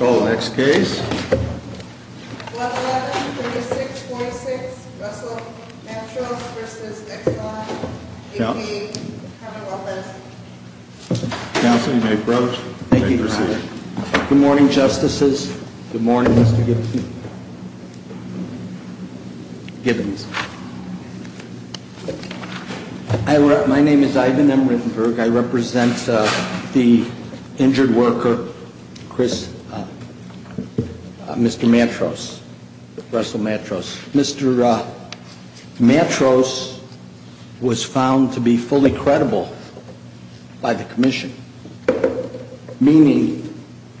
Next case. 111-3646 Russell Mantros v. Exxon, 88, Carmel, Memphis. Counsel, you may approach. Thank you, Your Honor. Good morning, Justices. Good morning, Mr. Gibbons. My name is Ivan Emmerenberg. I represent the injured worker, Mr. Mantros, Russell Mantros. Mr. Mantros was found to be fully credible by the commission, meaning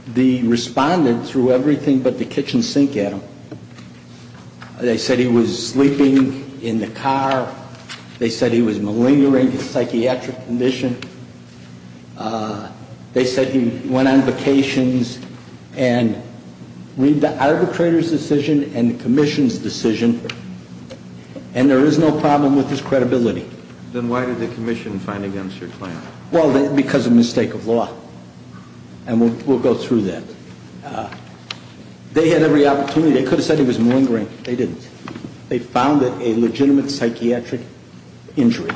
the respondent threw everything but the kitchen sink at him. They said he was sleeping in the car. They said he was malingering, a psychiatric condition. They said he went on vacations and read the arbitrator's decision and the commission's decision, and there is no problem with his credibility. Then why did the commission find against your client? Well, because of mistake of law, and we'll go through that. They had every opportunity. They could have said he was malingering. They didn't. They found it a legitimate psychiatric injury,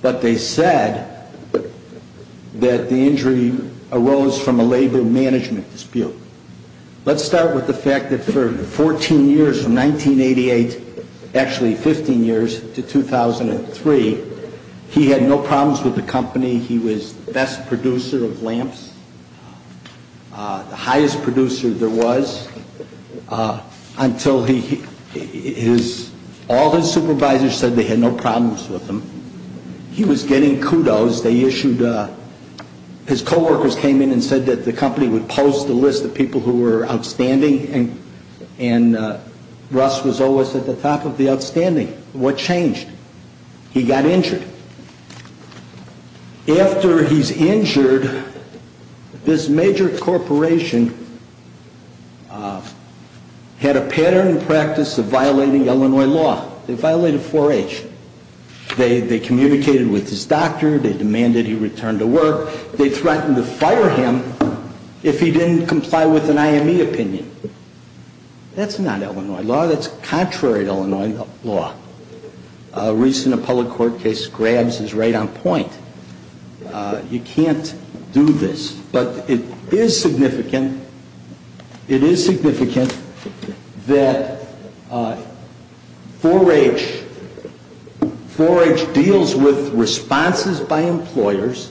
but they said that the injury arose from a labor management dispute. Let's start with the fact that for 14 years, from 1988, actually 15 years, to 2003, he had no problems with the company. He was the best producer of lamps, the highest producer there was, until all his supervisors said they had no problems with him. He was getting kudos. His co-workers came in and said that the company would post a list of people who were outstanding, and Russ was always at the top of the outstanding. What changed? He got injured. After he's injured, this major corporation had a pattern and practice of violating Illinois law. They violated 4H. They communicated with his doctor. They demanded he return to work. They threatened to fire him if he didn't comply with an IME opinion. That's not Illinois law. That's contrary to Illinois law. A recent public court case grabs his right on point. You can't do this. But it is significant. It is significant that 4H deals with responses by employers.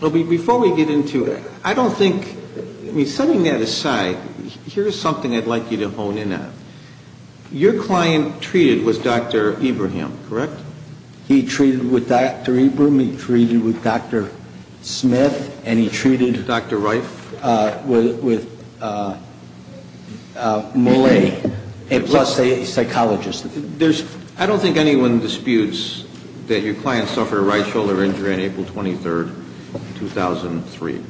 Before we get into it, I don't think, I mean, setting that aside, here's something I'd like you to hone in on. Your client treated with Dr. Ibrahim, correct? He treated with Dr. Ibram. He treated with Dr. Smith. And he treated with Dr. Reif. With Mollet, plus a psychologist. I don't think anyone disputes that your client suffered a right shoulder injury on April 23rd, 2003.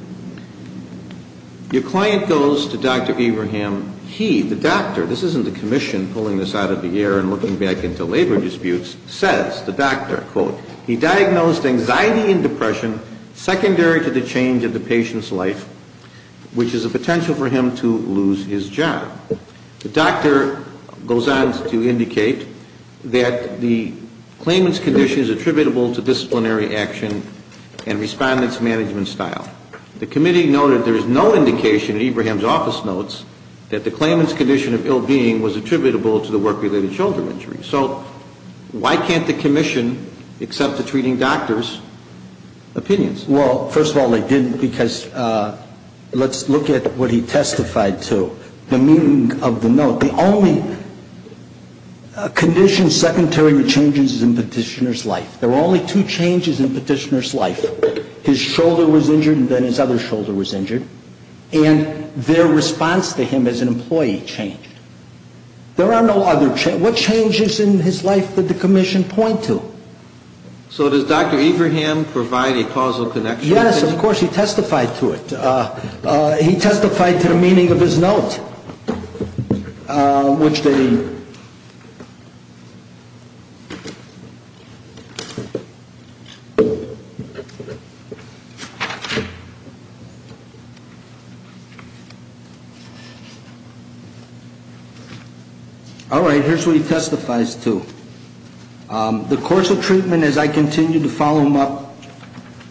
Your client goes to Dr. Ibrahim. He, the doctor, this isn't the commission pulling this out of the air and looking back into labor disputes, says, the doctor, quote, he diagnosed anxiety and depression secondary to the change of the patient's life, which is a potential for him to lose his job. The doctor goes on to indicate that the claimant's condition is attributable to disciplinary action and respondent's management style. The committee noted there is no indication in Ibrahim's office notes that the claimant's condition of ill-being was attributable to the work-related shoulder injury. So why can't the commission accept the treating doctor's opinions? Well, first of all, they didn't, because let's look at what he testified to. The meaning of the note. The only condition secondary to changes is in petitioner's life. There were only two changes in petitioner's life. His shoulder was injured and then his other shoulder was injured. And their response to him as an employee changed. There are no other changes. What changes in his life did the commission point to? So does Dr. Ibrahim provide a causal connection? Yes, of course. He testified to it. He testified to the meaning of his note, which they. All right, here's what he testifies to. The course of treatment as I continued to follow him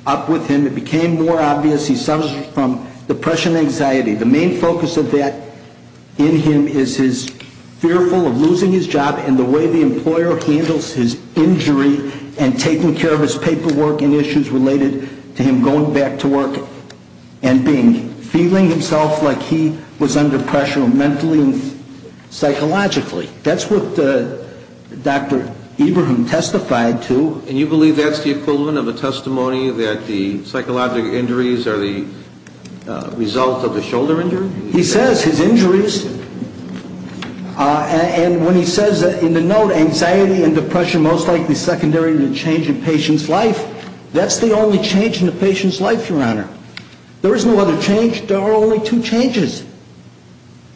up with him, it became more obvious. He suffers from depression and anxiety. The main focus of that in him is his fearful of losing his job and the way the employer handles his injury and taking care of his paperwork and issues related to him going back to work and feeling himself like he was under pressure mentally and psychologically. That's what Dr. Ibrahim testified to. And you believe that's the equivalent of a testimony that the psychological injuries are the result of the shoulder injury? He says his injuries. And when he says in the note, anxiety and depression most likely secondary to change in patient's life. That's the only change in the patient's life, Your Honor. There is no other change. There are only two changes.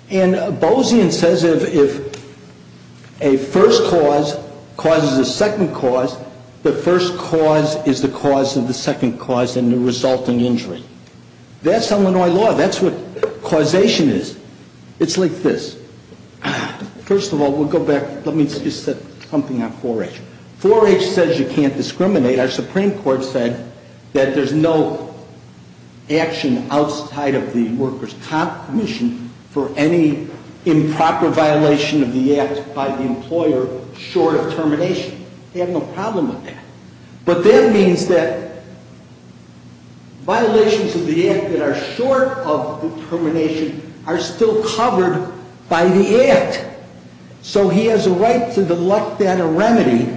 And Bozian says if a first cause causes a second cause, the first cause is the cause of the second cause and the resulting injury. That's Illinois law. That's what causation is. It's like this. First of all, we'll go back. Let me just say something on 4-H. 4-H says you can't discriminate. Our Supreme Court said that there's no action outside of the workers' comp commission for any improper violation of the act by the employer short of termination. They have no problem with that. But that means that violations of the act that are short of the termination are still covered by the act. So he has a right to delect that remedy,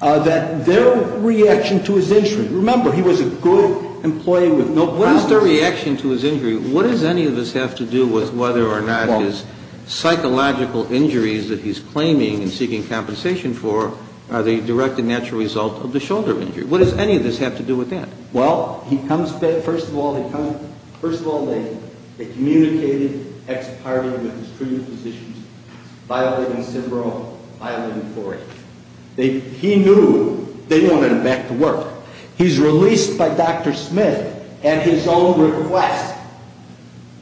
that their reaction to his injury. Remember, he was a good employee with no problems. What is their reaction to his injury? What does any of this have to do with whether or not his psychological injuries that he's claiming and seeking compensation for are the direct and natural result of the shoulder injury? What does any of this have to do with that? Well, he comes back. First of all, they communicated, ex-partied with his treatment physicians, violating his syndrome, violating 4-H. He knew they wanted him back to work. He's released by Dr. Smith at his own request.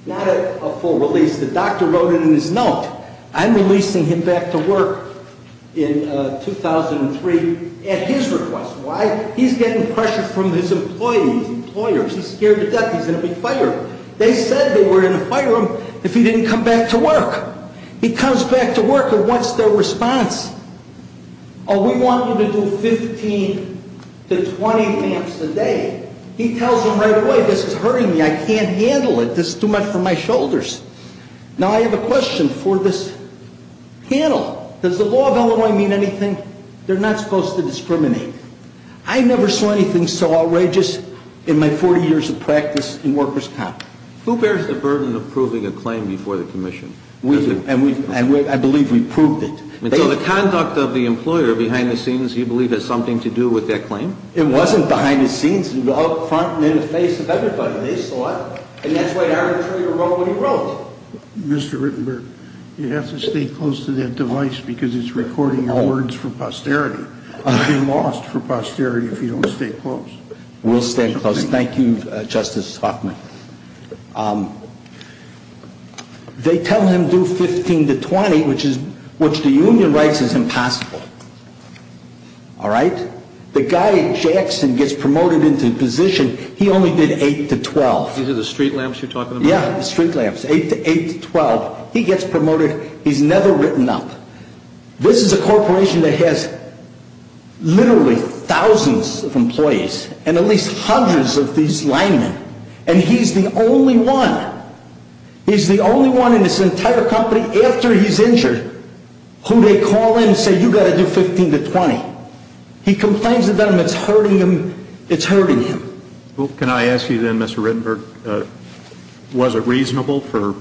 Not a full release. The doctor wrote it in his note. I'm releasing him back to work in 2003 at his request. Why? He's getting pressure from his employees, employers. He's scared to death he's going to be fired. They said they were going to fire him if he didn't come back to work. He comes back to work and what's their response? Oh, we want you to do 15 to 20 amps a day. He tells them right away, this is hurting me. I can't handle it. This is too much for my shoulders. Now, I have a question for this panel. Does the law of Illinois mean anything? They're not supposed to discriminate. I never saw anything so outrageous in my 40 years of practice in workers' comp. Who bears the burden of proving a claim before the commission? We do. And I believe we've proved it. So the conduct of the employer behind the scenes you believe has something to do with that claim? It wasn't behind the scenes. It was out front and in the face of everybody. They saw it. And that's why the arbitrator wrote what he wrote. Mr. Rittenberg, you have to stay close to that device because it's recording your words for posterity. You'll be lost for posterity if you don't stay close. We'll stay close. Thank you, Justice Hoffman. They tell him do 15 to 20, which the union writes is impossible. All right? The guy at Jackson gets promoted into position. He only did 8 to 12. These are the street lamps you're talking about? Yeah, the street lamps. 8 to 12. He gets promoted. He's never written up. This is a corporation that has literally thousands of employees and at least hundreds of these linemen. And he's the only one. He's the only one in this entire company after he's injured who they call in and say you've got to do 15 to 20. He complains about them. It's hurting him. It's hurting him. Can I ask you then, Mr. Rittenberg, was it reasonable for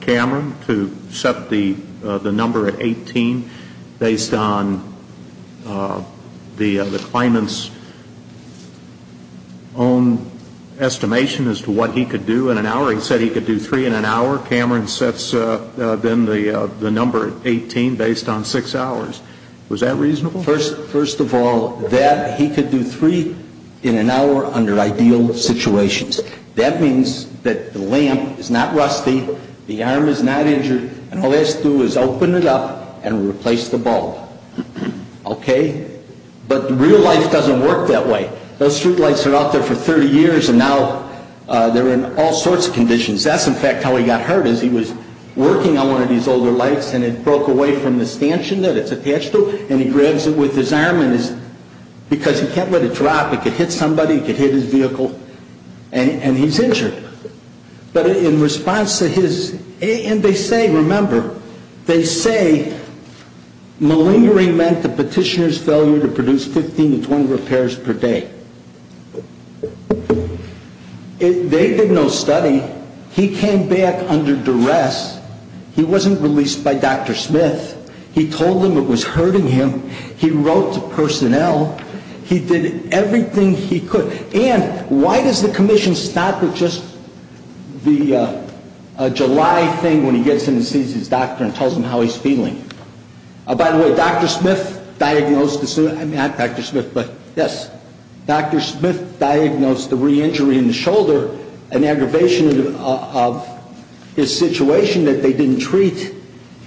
Cameron to set the number at 18 based on the claimant's own estimation as to what he could do in an hour? He said he could do 3 in an hour. Cameron sets then the number at 18 based on 6 hours. Was that reasonable? First of all, that he could do 3 in an hour under ideal situations. That means that the lamp is not rusty. The arm is not injured. And all he has to do is open it up and replace the bulb. Okay? But real life doesn't work that way. Those street lights are out there for 30 years and now they're in all sorts of conditions. That's, in fact, how he got hurt is he was working on one of these older lights and it broke away from the Because he can't let it drop. It could hit somebody. It could hit his vehicle. And he's injured. But in response to his, and they say, remember, they say malingering meant the petitioner's failure to produce 15 to 20 repairs per day. They did no study. He came back under duress. He wasn't released by Dr. Smith. He told them it was hurting him. He wrote to personnel. He did everything he could. And why does the commission stop at just the July thing when he gets in and sees his doctor and tells him how he's feeling? By the way, Dr. Smith diagnosed, I mean not Dr. Smith, but yes, Dr. Smith diagnosed the re-injury in the shoulder, an aggravation of his situation that they didn't treat.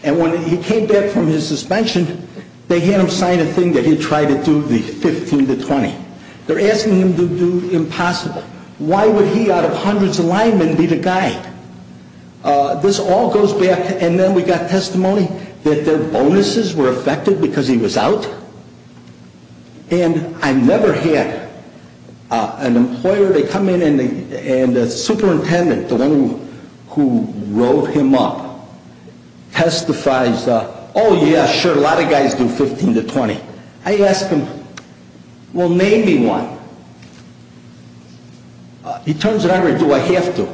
And when he came back from his suspension, they had him sign a thing that he tried to do the 15 to 20. They're asking him to do impossible. Why would he out of hundreds of linemen be the guy? This all goes back, and then we got testimony that their bonuses were affected because he was out. And I've never had an employer, they come in and the superintendent, the one who wrote him up, testifies, oh, yeah, sure, a lot of guys do 15 to 20. I ask him, well, name me one. He turns it over, do I have to?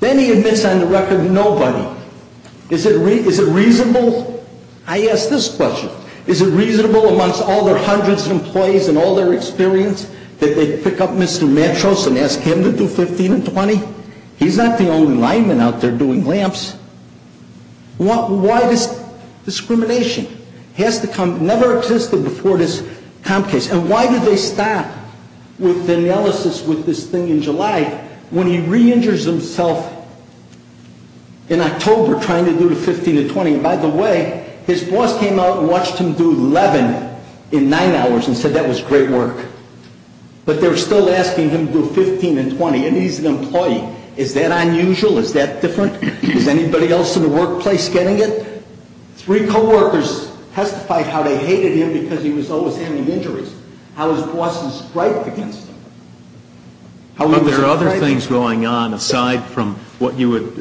Then he admits on the record nobody. Is it reasonable? I ask this question. Is it reasonable amongst all their hundreds of employees and all their experience that they pick up Mr. Matros and ask him to do 15 and 20? He's not the only lineman out there doing lamps. Why this discrimination? It has to come, never existed before this comp case. And why did they stop with the analysis with this thing in July when he re-injures himself in October trying to do the 15 to 20? By the way, his boss came out and watched him do 11 in nine hours and said that was great work. But they're still asking him to do 15 and 20. And he's an employee. Is that unusual? Is that different? Is anybody else in the workplace getting it? Three coworkers testified how they hated him because he was always having injuries. How his boss was striped against him. There are other things going on aside from what you would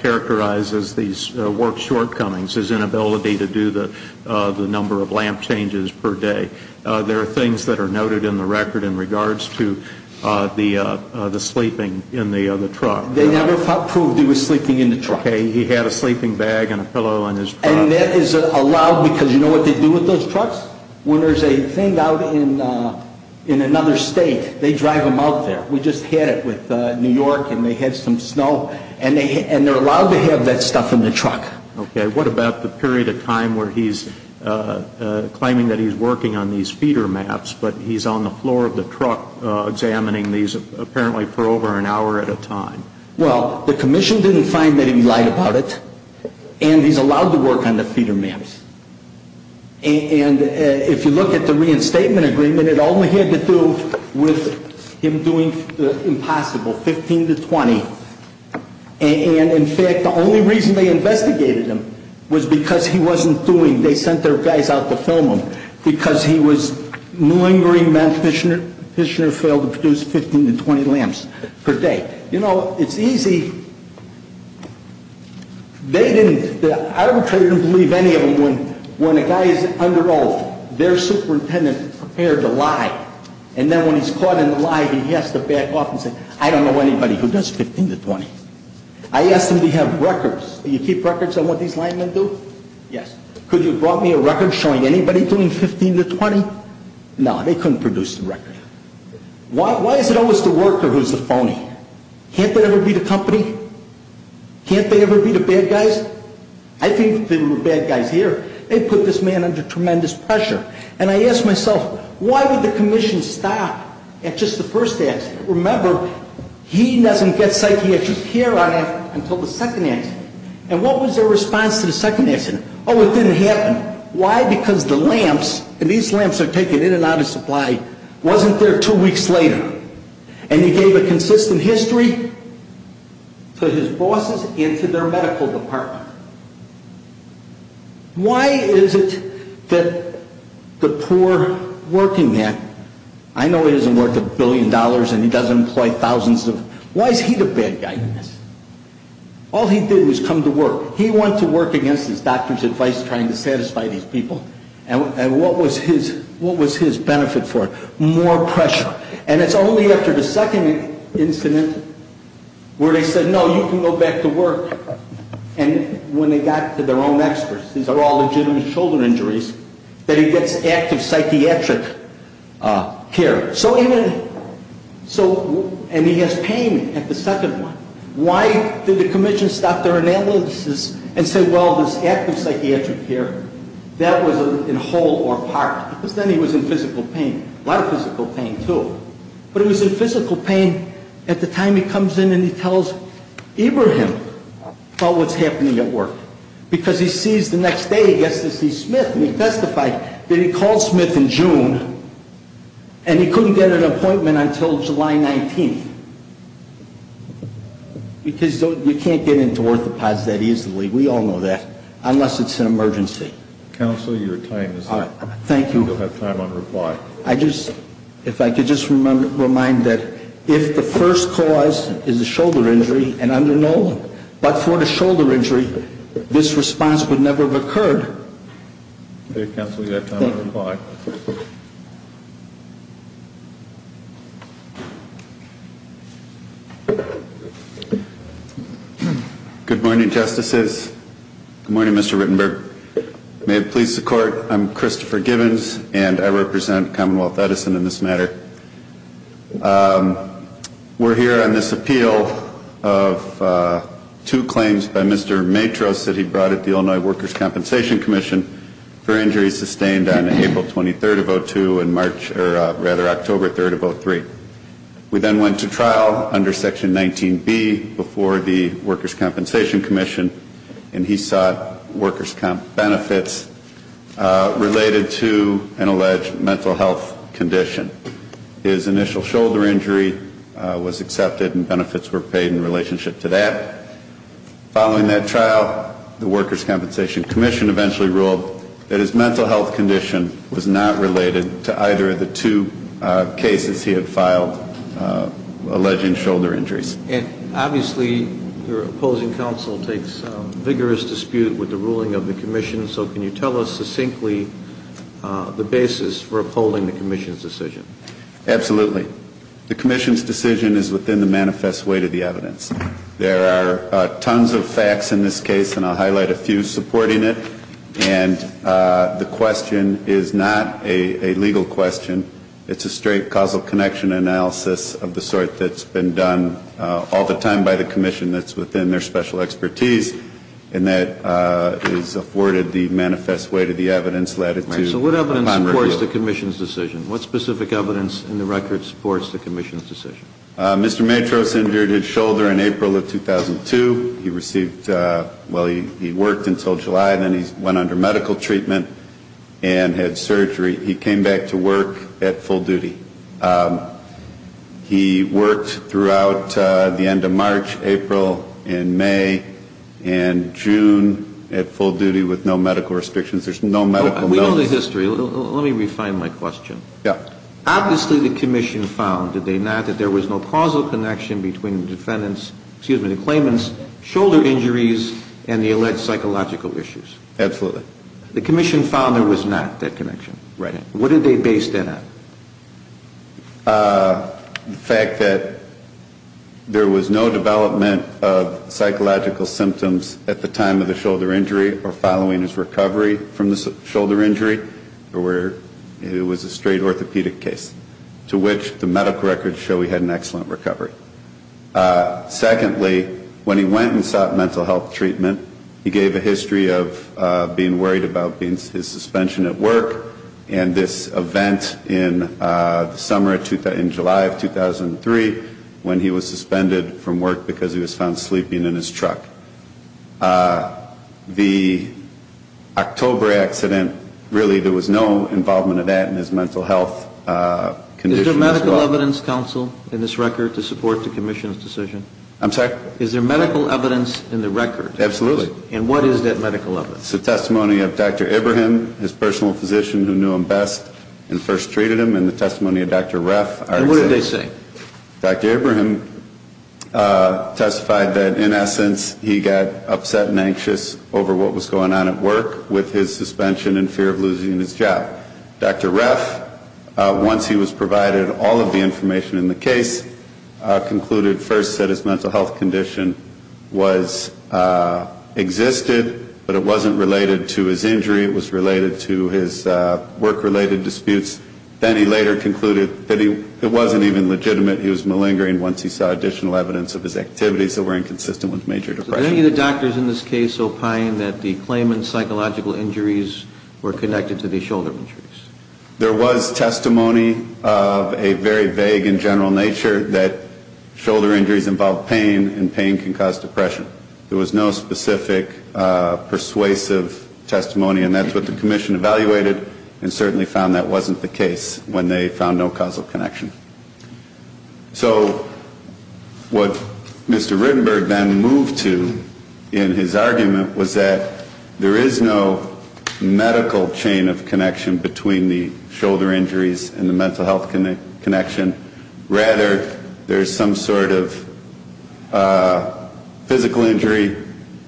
characterize as these work shortcomings, his inability to do the number of lamp changes per day. There are things that are noted in the record in regards to the sleeping in the truck. They never proved he was sleeping in the truck. Okay. He had a sleeping bag and a pillow in his truck. And that is allowed because you know what they do with those trucks? When there's a thing out in another state, they drive them out there. We just had it with New York and they had some snow. And they're allowed to have that stuff in the truck. Okay. What about the period of time where he's claiming that he's working on these feeder maps but he's on the floor of the truck examining these apparently for over an hour at a time? Well, the commission didn't find that he lied about it. And he's allowed to work on the feeder maps. And if you look at the reinstatement agreement, it only had to do with him doing the impossible, 15 to 20. And, in fact, the only reason they investigated him was because he wasn't doing. They sent their guys out to film him. Because he was malingering meant Fishner failed to produce 15 to 20 lamps per day. You know, it's easy. They didn't. I don't believe any of them. When a guy is under old, their superintendent prepared to lie. And then when he's caught in the lie, he has to back off and say, I don't know anybody who does 15 to 20. I asked them to have records. Do you keep records on what these linemen do? Yes. Could you have brought me a record showing anybody doing 15 to 20? No, they couldn't produce the record. Why is it always the worker who's the phony? Can't there ever be the company? Can't there ever be the bad guys? I think there were bad guys here. They put this man under tremendous pressure. And I asked myself, why would the commission stop at just the first accident? Remember, he doesn't get psychiatric care on him until the second accident. And what was their response to the second accident? Oh, it didn't happen. Why? Because the lamps, and these lamps are taken in and out of supply, wasn't there two weeks later. And he gave a consistent history to his bosses and to their medical department. Why is it that the poor working man, I know he doesn't work a billion dollars and he doesn't employ thousands of, why is he the bad guy? All he did was come to work. He went to work against his doctor's advice trying to satisfy these people. And what was his benefit for? More pressure. And it's only after the second incident where they said, no, you can go back to work. And when they got to their own experts, these are all legitimate shoulder injuries, that he gets active psychiatric care. So even, so, and he has pain at the second one. Why did the commission stop their analysis and say, well, this active psychiatric care, that was in whole or part? Because then he was in physical pain. A lot of physical pain, too. But he was in physical pain at the time he comes in and he tells Ibrahim about what's happening at work. Because he sees the next day he gets to see Smith. And he testified that he called Smith in June and he couldn't get an appointment until July 19th. Because you can't get into orthopods that easily, we all know that, unless it's an emergency. Counsel, your time is up. Thank you. Counsel, you'll have time on reply. I just, if I could just remind that if the first cause is a shoulder injury and under no, but for the shoulder injury, this response would never have occurred. Counsel, you have time on reply. Good morning, Justices. Good morning, Mr. Rittenberg. May it please the Court, I'm Christopher Gibbons and I represent Commonwealth Edison in this matter. We're here on this appeal of two claims by Mr. Matros that he brought at the Illinois Workers' Compensation Commission for injuries sustained on April 23rd of 02 and March, or rather October 3rd of 03. We then went to trial under Section 19B before the Workers' Compensation Commission and he sought workers' benefits related to an alleged mental health condition. His initial shoulder injury was accepted and benefits were paid in relationship to that. Following that trial, the Workers' Compensation Commission eventually ruled that his mental health condition was not related to either of the two cases he had filed alleging shoulder injuries. And obviously, your opposing counsel takes vigorous dispute with the ruling of the Commission, so can you tell us succinctly the basis for upholding the Commission's decision? Absolutely. The Commission's decision is within the manifest weight of the evidence. There are tons of facts in this case, and I'll highlight a few supporting it. And the question is not a legal question. It's a straight causal connection analysis of the sort that's been done all the time by the Commission that's within their special expertise. And that is afforded the manifest weight of the evidence. So what evidence supports the Commission's decision? What specific evidence in the record supports the Commission's decision? Mr. Matros injured his shoulder in April of 2002. He received ñ well, he worked until July, and then he went under medical treatment and had surgery. He came back to work at full duty. He worked throughout the end of March, April, and May, and June at full duty with no medical restrictions. There's no medical notice. We know the history. Let me refine my question. Yeah. Obviously the Commission found, did they not, that there was no causal connection between the defendant's ñ excuse me ñ the claimant's shoulder injuries and the alleged psychological issues. Absolutely. The Commission found there was not that connection. Right. What did they base that on? The fact that there was no development of psychological symptoms at the time of the shoulder injury or following his recovery from the shoulder injury, it was a straight orthopedic case, to which the medical records show he had an excellent recovery. Secondly, when he went and sought mental health treatment, he gave a history of being worried about his suspension at work and this event in the summer of ñ in July of 2003 when he was suspended from work because he was found sleeping in his truck. The October accident, really there was no involvement of that in his mental health condition as well. Is there medical evidence, counsel, in this record to support the Commission's decision? I'm sorry? Is there medical evidence in the record? Absolutely. And what is that medical evidence? It's a testimony of Dr. Abraham, his personal physician who knew him best and first treated him, and the testimony of Dr. Reff. And what did they say? Dr. Abraham testified that, in essence, he got upset and anxious over what was going on at work with his suspension and fear of losing his job. Dr. Reff, once he was provided all of the information in the case, concluded first that his mental health condition existed, but it wasn't related to his injury. It was related to his work-related disputes. Then he later concluded that it wasn't even legitimate he was malingering once he saw additional evidence of his activities that were inconsistent with major depression. Did any of the doctors in this case opine that the claimant's psychological injuries were connected to the shoulder injuries? There was testimony of a very vague and general nature that shoulder injuries involve pain, and pain can cause depression. There was no specific persuasive testimony, and that's what the Commission evaluated and certainly found that wasn't the case when they found no causal connection. So what Mr. Rittenberg then moved to in his argument was that there is no medical chain of connection between the shoulder injuries and the mental health connection. Rather, there's some sort of physical injury,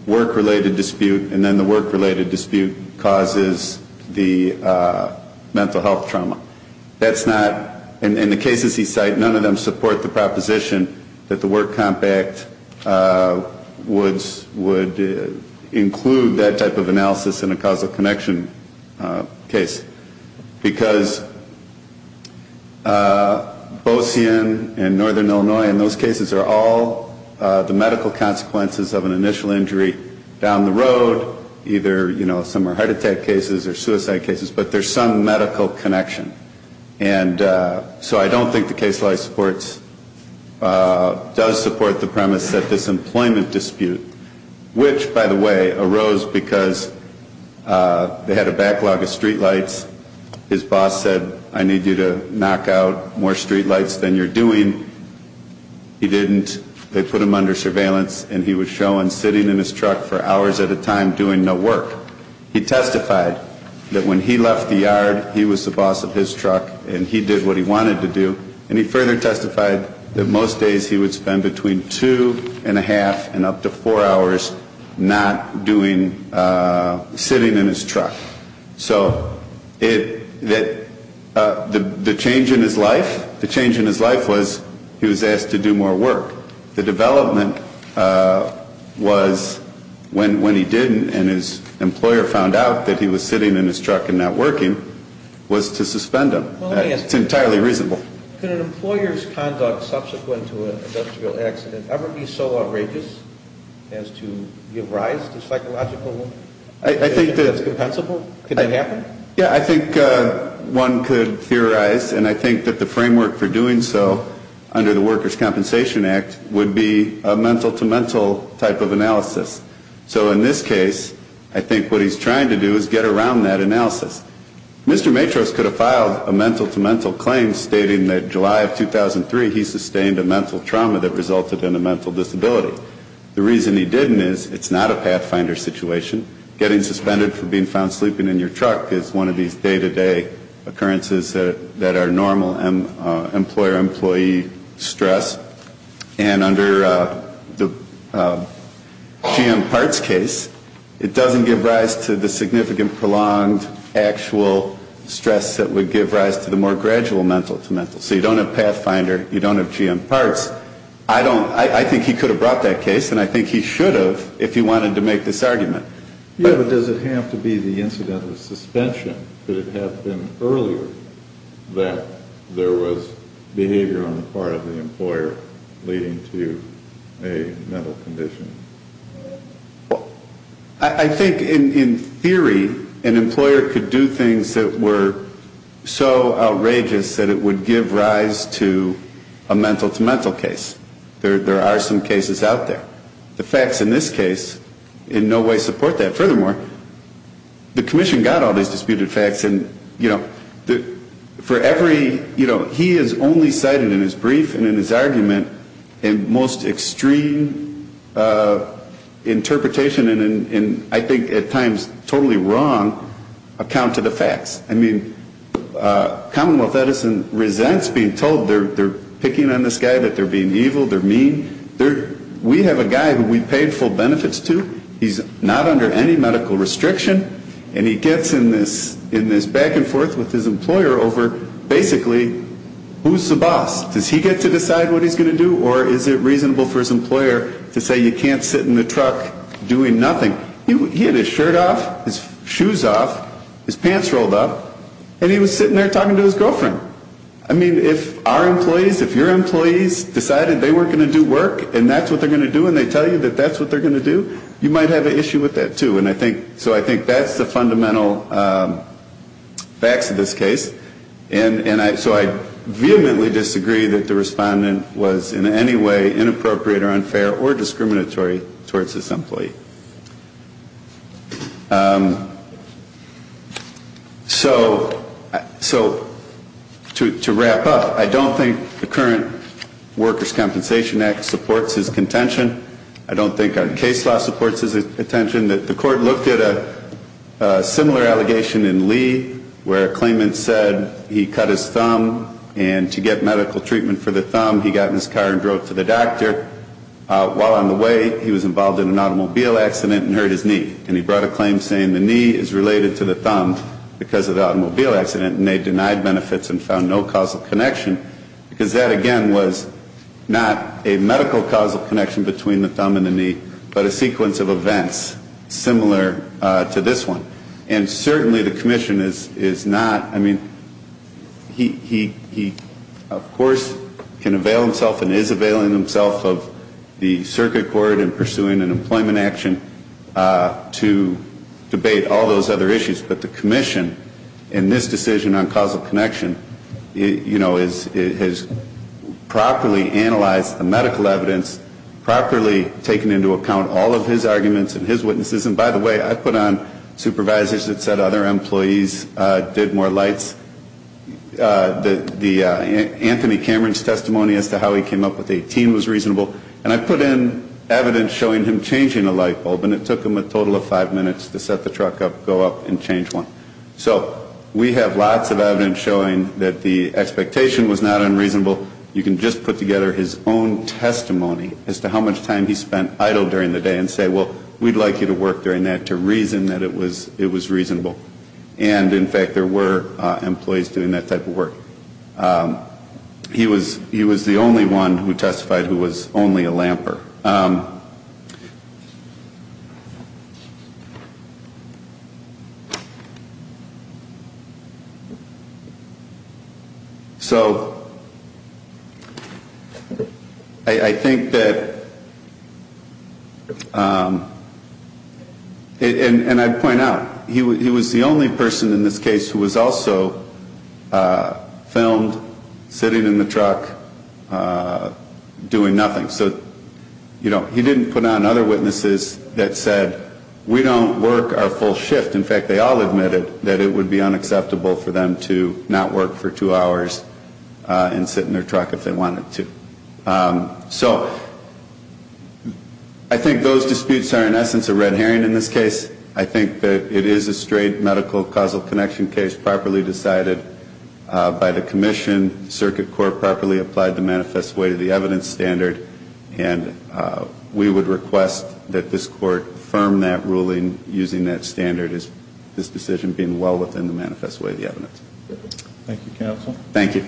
work-related dispute, and then the work-related dispute causes the mental health trauma. That's not, in the cases he cited, none of them support the proposition that the Work Compact would include that type of analysis in a causal connection case. Because Bosian and Northern Illinois in those cases are all the medical consequences of an initial injury down the road, either, you know, some are heart attack cases or suicide cases, but there's some medical connection. And so I don't think the case does support the premise that this employment dispute, which, by the way, arose because they had a backlog of streetlights. His boss said, I need you to knock out more streetlights than you're doing. He didn't. They put him under surveillance, and he was shown sitting in his truck for hours at a time doing no work. He testified that when he left the yard, he was the boss of his truck, and he did what he wanted to do. And he further testified that most days he would spend between two and a half and up to four hours not doing, sitting in his truck. So the change in his life, the change in his life was he was asked to do more work. The development was when he didn't and his employer found out that he was sitting in his truck and not working was to suspend him. It's entirely reasonable. Could an employer's conduct subsequent to an industrial accident ever be so outrageous as to give rise to psychological that's compensable? Could that happen? Yeah, I think one could theorize, and I think that the framework for doing so under the Workers' Compensation Act would be a mental-to-mental type of analysis. So in this case, I think what he's trying to do is get around that analysis. Mr. Matros could have filed a mental-to-mental claim stating that July of 2003 he sustained a mental trauma that resulted in a mental disability. The reason he didn't is it's not a pathfinder situation. Getting suspended for being found sleeping in your truck is one of these day-to-day occurrences that are normal employer-employee stress. And under the GM Parts case, it doesn't give rise to the significant prolonged actual stress that would give rise to the more gradual mental-to-mental. So you don't have pathfinder, you don't have GM Parts. I think he could have brought that case, and I think he should have if he wanted to make this argument. Yeah, but does it have to be the incident of suspension? Could it have been earlier that there was behavior on the part of the employer leading to a mental condition? Well, I think in theory, an employer could do things that were so outrageous that it would give rise to a mental-to-mental case. There are some cases out there. The facts in this case in no way support that. Furthermore, the commission got all these disputed facts, and, you know, for every, you know, he has only cited in his brief and in his argument a most extreme interpretation and I think at times totally wrong account to the facts. I mean, Commonwealth Edison resents being told they're picking on this guy, that they're being evil, they're mean. We have a guy who we paid full benefits to. He's not under any medical restriction, and he gets in this back-and-forth with his employer over basically who's the boss. Does he get to decide what he's going to do, or is it reasonable for his employer to say you can't sit in the truck doing nothing? He had his shirt off, his shoes off, his pants rolled up, and he was sitting there talking to his girlfriend. I mean, if our employees, if your employees decided they weren't going to do work and that's what they're going to do and they tell you that that's what they're going to do, you might have an issue with that, too. So I think that's the fundamental facts of this case. And so I vehemently disagree that the respondent was in any way inappropriate or unfair or discriminatory towards this employee. So to wrap up, I don't think the current Workers' Compensation Act supports his contention. I don't think our case law supports his contention. The court looked at a similar allegation in Lee where a claimant said he cut his thumb, and to get medical treatment for the thumb, he got in his car and drove to the doctor. While on the way, he was involved in an automobile accident and hurt his knee. And he brought a claim saying the knee is related to the thumb because of the automobile accident, and they denied benefits and found no causal connection because that, again, was not a medical causal connection between the thumb and the knee, but a sequence of events similar to this one. And certainly the commission is not, I mean, he, of course, can avail himself and is availing himself of the circuit court in pursuing an employment action to debate all those other issues. But the commission in this decision on causal connection, you know, has properly analyzed the medical evidence, properly taken into account all of his arguments and his witnesses. And by the way, I put on supervisors that said other employees did more lights. The Anthony Cameron's testimony as to how he came up with 18 was reasonable. And I put in evidence showing him changing a light bulb, and it took him a total of five minutes to set the truck up, go up, and change one. So we have lots of evidence showing that the expectation was not unreasonable. You can just put together his own testimony as to how much time he spent idle during the day and say, well, we'd like you to work during that to reason that it was reasonable. And, in fact, there were employees doing that type of work. He was the only one who testified who was only a lamper. So I think that, and I point out, he was the only person in this case who was also filmed sitting in the truck doing nothing. So, you know, he didn't put on other witnesses that said, we don't work our full shift. In fact, they all admitted that it would be unacceptable for them to not work for two hours and sit in their truck if they wanted to. So I think those disputes are, in essence, a red herring in this case. I think that it is a straight medical causal connection case properly decided by the commission. The circuit court properly applied the manifest way to the evidence standard. And we would request that this court affirm that ruling using that standard as this decision being well within the manifest way of the evidence. Thank you, Counsel. Thank you.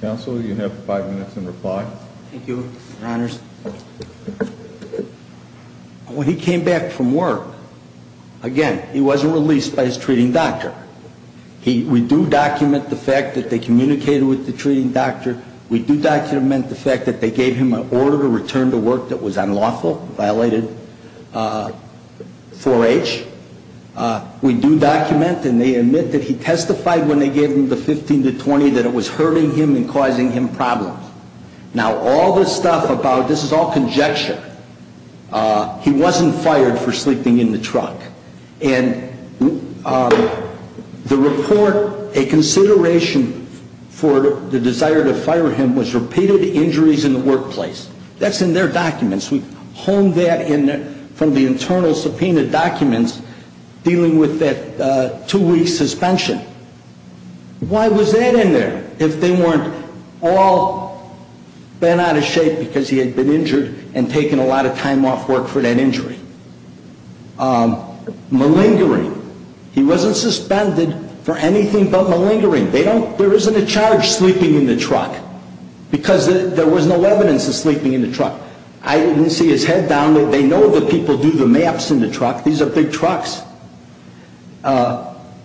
Counsel, you have five minutes in reply. Thank you, Your Honors. When he came back from work, again, he wasn't released by his treating doctor. We do document the fact that they communicated with the treating doctor. We do document the fact that they gave him an order to return to work that was unlawful, violated 4H. We do document and they admit that he testified when they gave him the 15 to 20 that it was hurting him and causing him problems. Now, all this stuff about this is all conjecture. He wasn't fired for sleeping in the truck. And the report, a consideration for the desire to fire him was repeated injuries in the workplace. That's in their documents. We honed that in from the internal subpoena documents dealing with that two-week suspension. Why was that in there if they weren't all bent out of shape because he had been injured and taken a lot of time off work for that injury? Malingering. He wasn't suspended for anything but malingering. There isn't a charge sleeping in the truck because there was no evidence of sleeping in the truck. I didn't see his head down. They know the people do the maps in the truck. These are big trucks.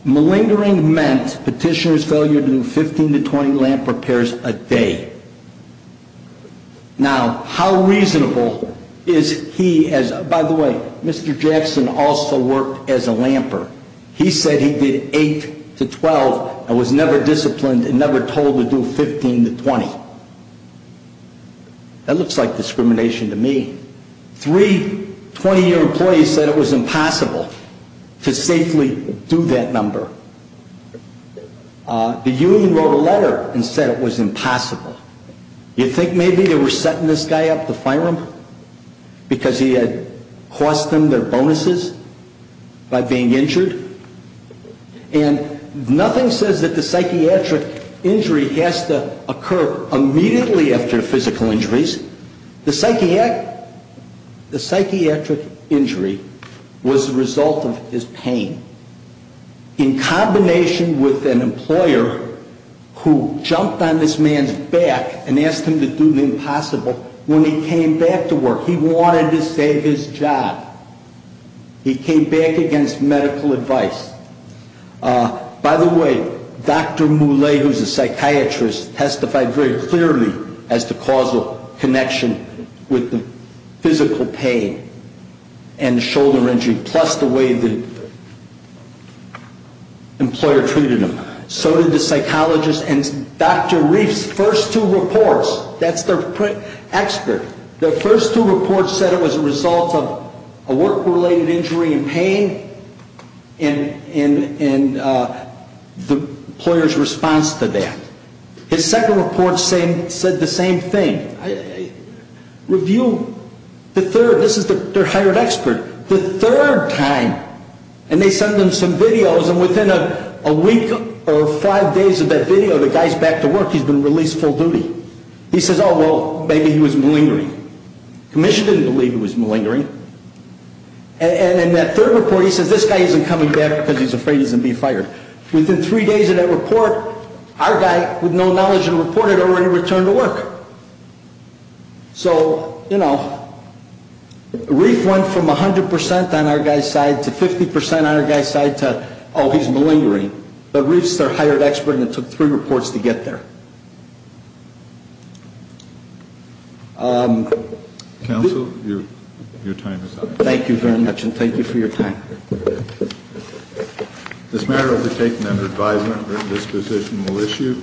Malingering meant petitioner's failure to do 15 to 20 lamp repairs a day. Now, how reasonable is he as, by the way, Mr. Jackson also worked as a lamper. He said he did 8 to 12 and was never disciplined and never told to do 15 to 20. That looks like discrimination to me. Three 20-year employees said it was impossible to safely do that number. The union wrote a letter and said it was impossible. You think maybe they were setting this guy up to fire him because he had cost them their bonuses by being injured? And nothing says that the psychiatric injury has to occur immediately after physical injuries. The psychiatric injury was the result of his pain. In combination with an employer who jumped on this man's back and asked him to do the impossible, when he came back to work, he wanted to save his job. He came back against medical advice. By the way, Dr. Moulet, who's a psychiatrist, testified very clearly as to causal connection with the physical pain and shoulder injury plus the way the employer treated him. So did the psychologist and Dr. Reif's first two reports. That's their expert. Their first two reports said it was a result of a work-related injury and pain and the employer's response to that. His second report said the same thing. Review the third. This is their hired expert. The third time, and they sent them some videos, and within a week or five days of that video, the guy's back to work. He's been released full duty. He says, oh, well, maybe he was malingering. Commission didn't believe he was malingering. And in that third report, he says this guy isn't coming back because he's afraid he's going to be fired. Within three days of that report, our guy, with no knowledge of the report, had already returned to work. So, you know, Reif went from 100% on our guy's side to 50% on our guy's side to, oh, he's malingering. But Reif's their hired expert, and it took three reports to get there. Counsel, your time is up. Thank you very much, and thank you for your time. This matter will be taken under advisement. This position will issue.